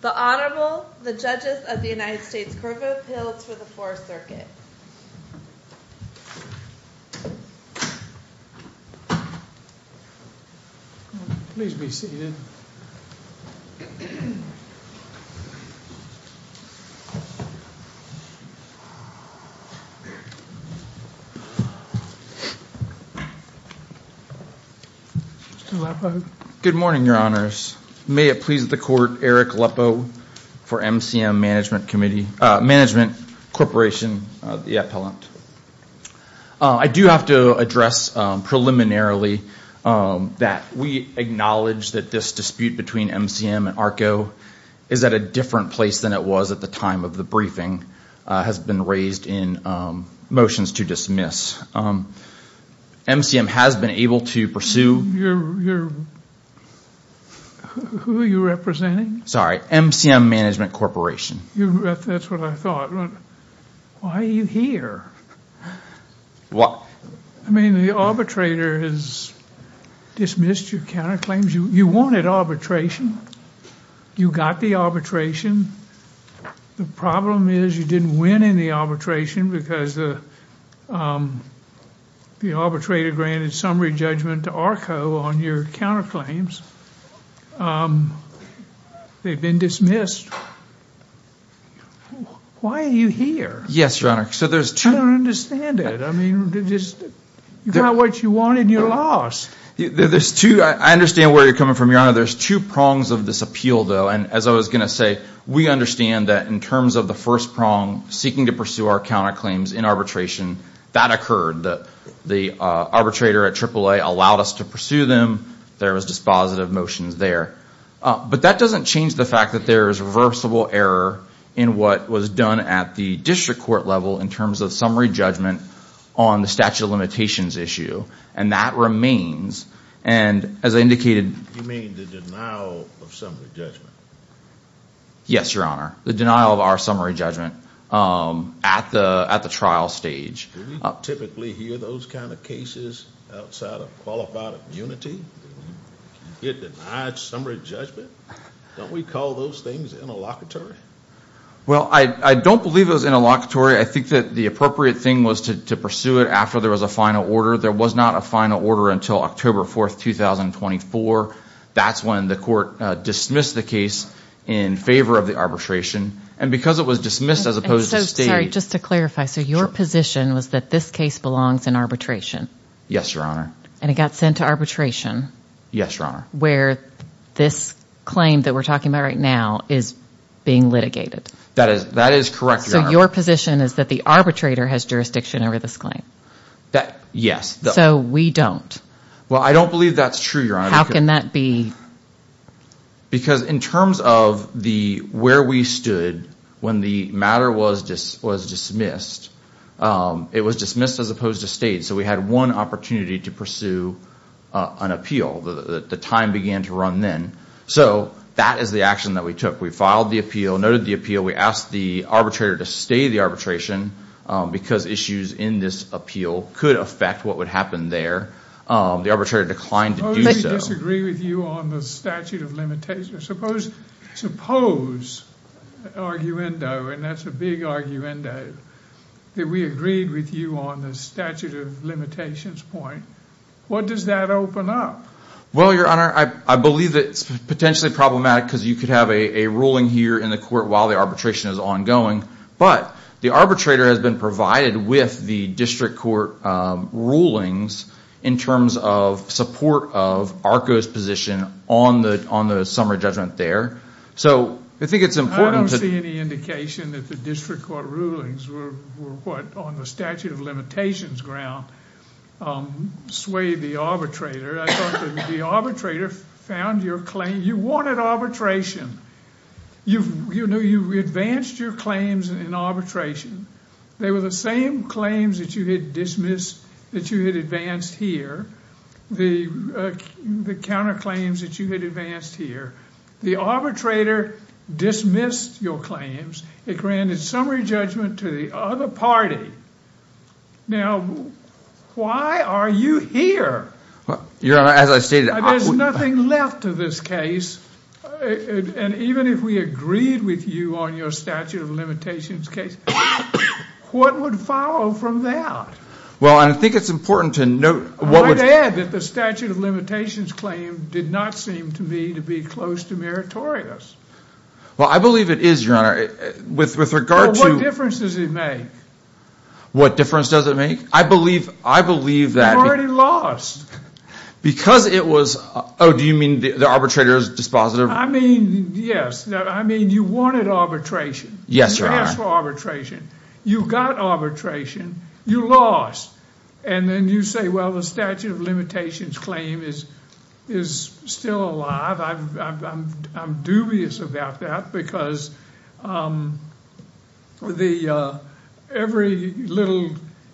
The Honorable, the Judges of the United States Court of Appeals for the Fourth Circuit. Please be seated. Good morning, Your Honors. May it please the Court, Eric Lepo for MCM Management Corporation, the Appellant. I do have to address preliminarily that we acknowledge that this dispute between MCM and ARCO is at a different place than it was at the time of the briefing, has been raised in motions to dismiss. MCM has been able to pursue... Who are you representing? Sorry, MCM Management Corporation. That's what I thought. Why are you here? What? I mean, the arbitrator has dismissed your counterclaims. You wanted arbitration. You got the arbitration. The problem is you didn't win in the arbitration because the arbitrator granted summary judgment to ARCO on your counterclaims. They've been dismissed. Why are you here? Yes, Your Honor. I don't understand it. I mean, you got what you wanted and you lost. I understand where you're coming from, Your Honor. There's two prongs of this appeal, though, and as I was going to say, we understand that in terms of the first prong, seeking to pursue our counterclaims in arbitration, that occurred. The arbitrator at AAA allowed us to pursue them. There was dispositive motions there. But that doesn't change the fact that there is reversible error in what was done at the district court level in terms of summary judgment on the statute of limitations issue, and that remains. And as I indicated... You mean the denial of summary judgment? Yes, Your Honor, the denial of our summary judgment at the trial stage. Do we typically hear those kind of cases outside of qualified immunity? Get denied summary judgment? Don't we call those things interlocutory? Well, I don't believe it was interlocutory. I think that the appropriate thing was to pursue it after there was a final order. There was not a final order until October 4, 2024. That's when the court dismissed the case in favor of the arbitration. And because it was dismissed as opposed to staying... Just to clarify, so your position was that this case belongs in arbitration? Yes, Your Honor. And it got sent to arbitration? Yes, Your Honor. Where this claim that we're talking about right now is being litigated? That is correct, Your Honor. So your position is that the arbitrator has jurisdiction over this claim? Yes. So we don't? Well, I don't believe that's true, Your Honor. How can that be? Because in terms of where we stood when the matter was dismissed, it was dismissed as opposed to stayed. So we had one opportunity to pursue an appeal. The time began to run then. So that is the action that we took. We filed the appeal, noted the appeal. We asked the arbitrator to stay the arbitration because issues in this appeal could affect what would happen there. The arbitrator declined to do so. Suppose we disagree with you on the statute of limitations. Suppose, arguendo, and that's a big arguendo, that we agreed with you on the statute of limitations point. What does that open up? Well, Your Honor, I believe that it's potentially problematic because you could have a ruling here in the court while the arbitration is ongoing. But the arbitrator has been provided with the district court rulings in terms of support of ARCO's position on the summary judgment there. So I think it's important to... I don't see any indication that the district court rulings were what, on the statute of limitations ground, swayed the arbitrator. I thought that the arbitrator found your claim. You wanted arbitration. You advanced your claims in arbitration. They were the same claims that you had advanced here, the counterclaims that you had advanced here. The arbitrator dismissed your claims. It granted summary judgment to the other party. Now, why are you here? Your Honor, as I stated, I wouldn't... There's nothing left to this case, and even if we agreed with you on your statute of limitations case, what would follow from that? Well, and I think it's important to note... I'd add that the statute of limitations claim did not seem to me to be close to meritorious. Well, I believe it is, Your Honor. With regard to... Well, what difference does it make? What difference does it make? I believe that... You already lost. Because it was... Oh, do you mean the arbitrator's dispositive? I mean, yes. I mean, you wanted arbitration. Yes, Your Honor. You asked for arbitration. You got arbitration. You lost. And then you say, well, the statute of limitations claim is still alive. I'm dubious about that because every little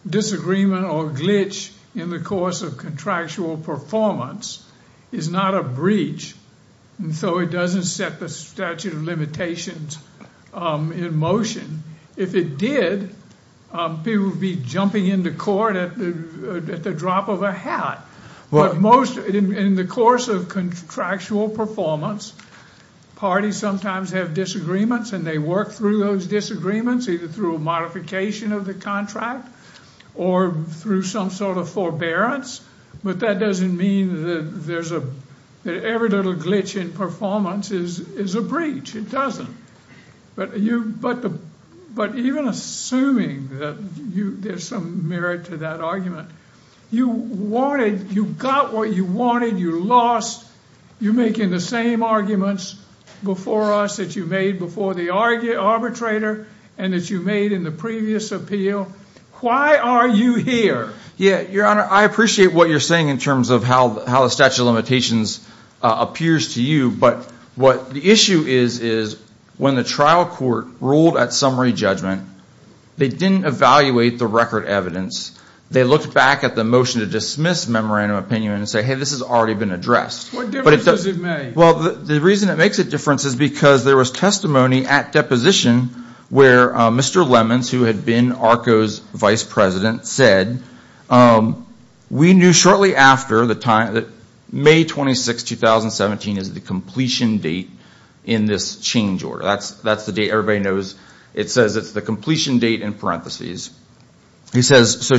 disagreement or glitch in the course of contractual performance is not a breach. And so it doesn't set the statute of limitations in motion. If it did, people would be jumping into court at the drop of a hat. But most... In the course of contractual performance, parties sometimes have disagreements, and they work through those disagreements, either through a modification of the contract or through some sort of forbearance. But that doesn't mean that every little glitch in performance is a breach. It doesn't. But even assuming that there's some merit to that argument, you wanted... You got what you wanted. You lost. You're making the same arguments before us that you made before the arbitrator and that you made in the previous appeal. Why are you here? Yeah, Your Honor, I appreciate what you're saying in terms of how the statute of limitations appears to you. But what the issue is is when the trial court ruled at summary judgment, they didn't evaluate the record evidence. They looked back at the motion to dismiss memorandum opinion and said, hey, this has already been addressed. What difference does it make? Well, the reason it makes a difference is because there was testimony at deposition where Mr. Lemons, who had been ARCO's vice president, said, we knew shortly after May 26, 2017 is the completion date in this change order. That's the date everybody knows. It says it's the completion date in parentheses. He says, so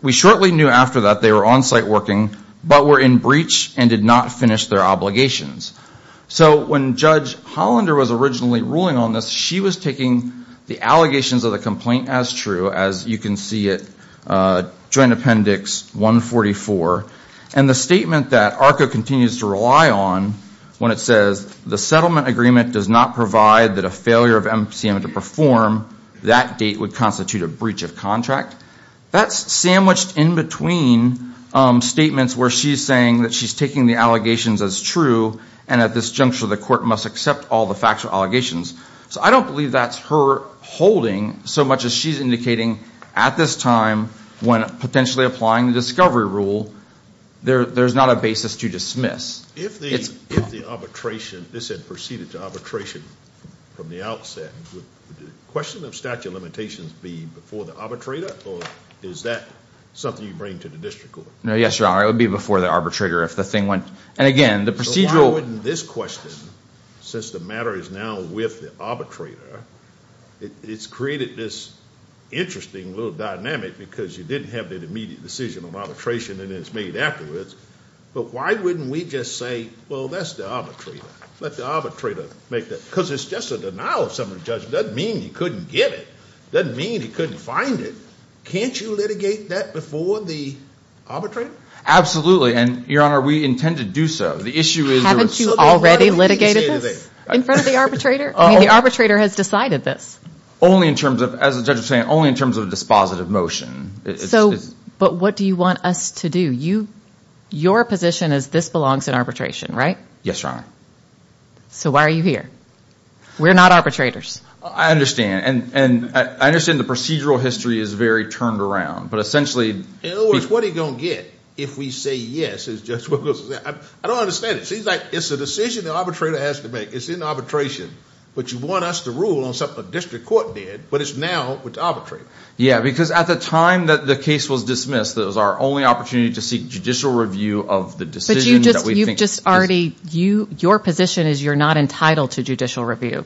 we shortly knew after that they were on-site working but were in breach and did not finish their obligations. So when Judge Hollander was originally ruling on this, she was taking the allegations of the complaint as true, as you can see it, Joint Appendix 144. And the statement that ARCO continues to rely on when it says the settlement agreement does not provide that a failure of MCM to perform, that date would constitute a breach of contract. That's sandwiched in between statements where she's saying that she's taking the allegations as true and at this juncture the court must accept all the factual allegations. So I don't believe that's her holding so much as she's indicating at this time when potentially applying the discovery rule, there's not a basis to dismiss. If the arbitration, this had proceeded to arbitration from the outset, would the question of statute of limitations be before the arbitrator or is that something you bring to the district court? No, yes, Your Honor. It would be before the arbitrator if the thing went. And again, the procedural. So why wouldn't this question, since the matter is now with the arbitrator, it's created this interesting little dynamic because you didn't have the immediate decision of arbitration and it's made afterwards. But why wouldn't we just say, well, that's the arbitrator. Let the arbitrator make that. Because it's just a denial of summary judgment. Doesn't mean he couldn't get it. Doesn't mean he couldn't find it. Can't you litigate that before the arbitrator? Absolutely. And, Your Honor, we intend to do so. The issue is. Haven't you already litigated this in front of the arbitrator? I mean, the arbitrator has decided this. Only in terms of, as the judge was saying, only in terms of a dispositive motion. So, but what do you want us to do? You, your position is this belongs in arbitration, right? Yes, Your Honor. So why are you here? We're not arbitrators. I understand. And I understand the procedural history is very turned around. But essentially. In other words, what are you going to get if we say yes? I don't understand it. Seems like it's a decision the arbitrator has to make. It's in arbitration. But you want us to rule on something the district court did, but it's now with the arbitrator. Yeah, because at the time that the case was dismissed, that was our only opportunity to seek judicial review of the decision. You've just already, your position is you're not entitled to judicial review.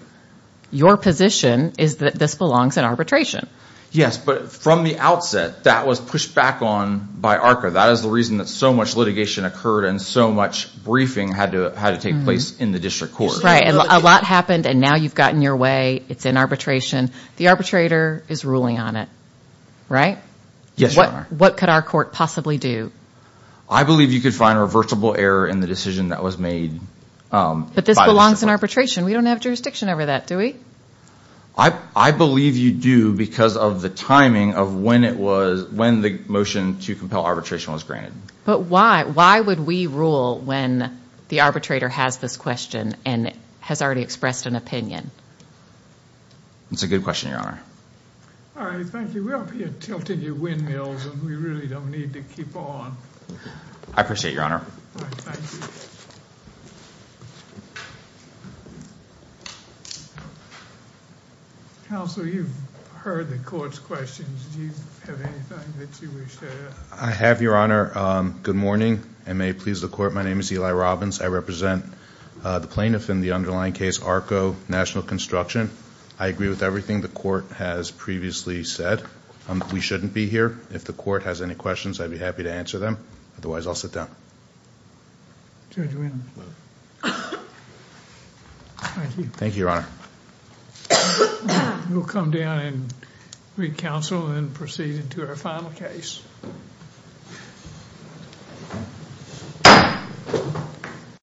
Your position is that this belongs in arbitration. Yes, but from the outset, that was pushed back on by ARCA. That is the reason that so much litigation occurred and so much briefing had to take place in the district court. Right, and a lot happened and now you've gotten your way. It's in arbitration. The arbitrator is ruling on it, right? Yes, Your Honor. What could our court possibly do? I believe you could find a reversible error in the decision that was made. But this belongs in arbitration. We don't have jurisdiction over that, do we? I believe you do because of the timing of when the motion to compel arbitration was granted. But why would we rule when the arbitrator has this question and has already expressed an opinion? That's a good question, Your Honor. All right, thank you. We hope you're tilting your windmills and we really don't need to keep on. I appreciate it, Your Honor. Thank you. Counsel, you've heard the court's questions. Do you have anything that you wish to add? I have, Your Honor. Good morning and may it please the court. My name is Eli Robbins. I represent the plaintiff in the underlying case, ARCO National Construction. I agree with everything the court has said. We shouldn't be here. If the court has any questions, I'd be happy to answer them. Otherwise, I'll sit down. Thank you. Thank you, Your Honor. We'll come down and re-counsel and proceed into our final case.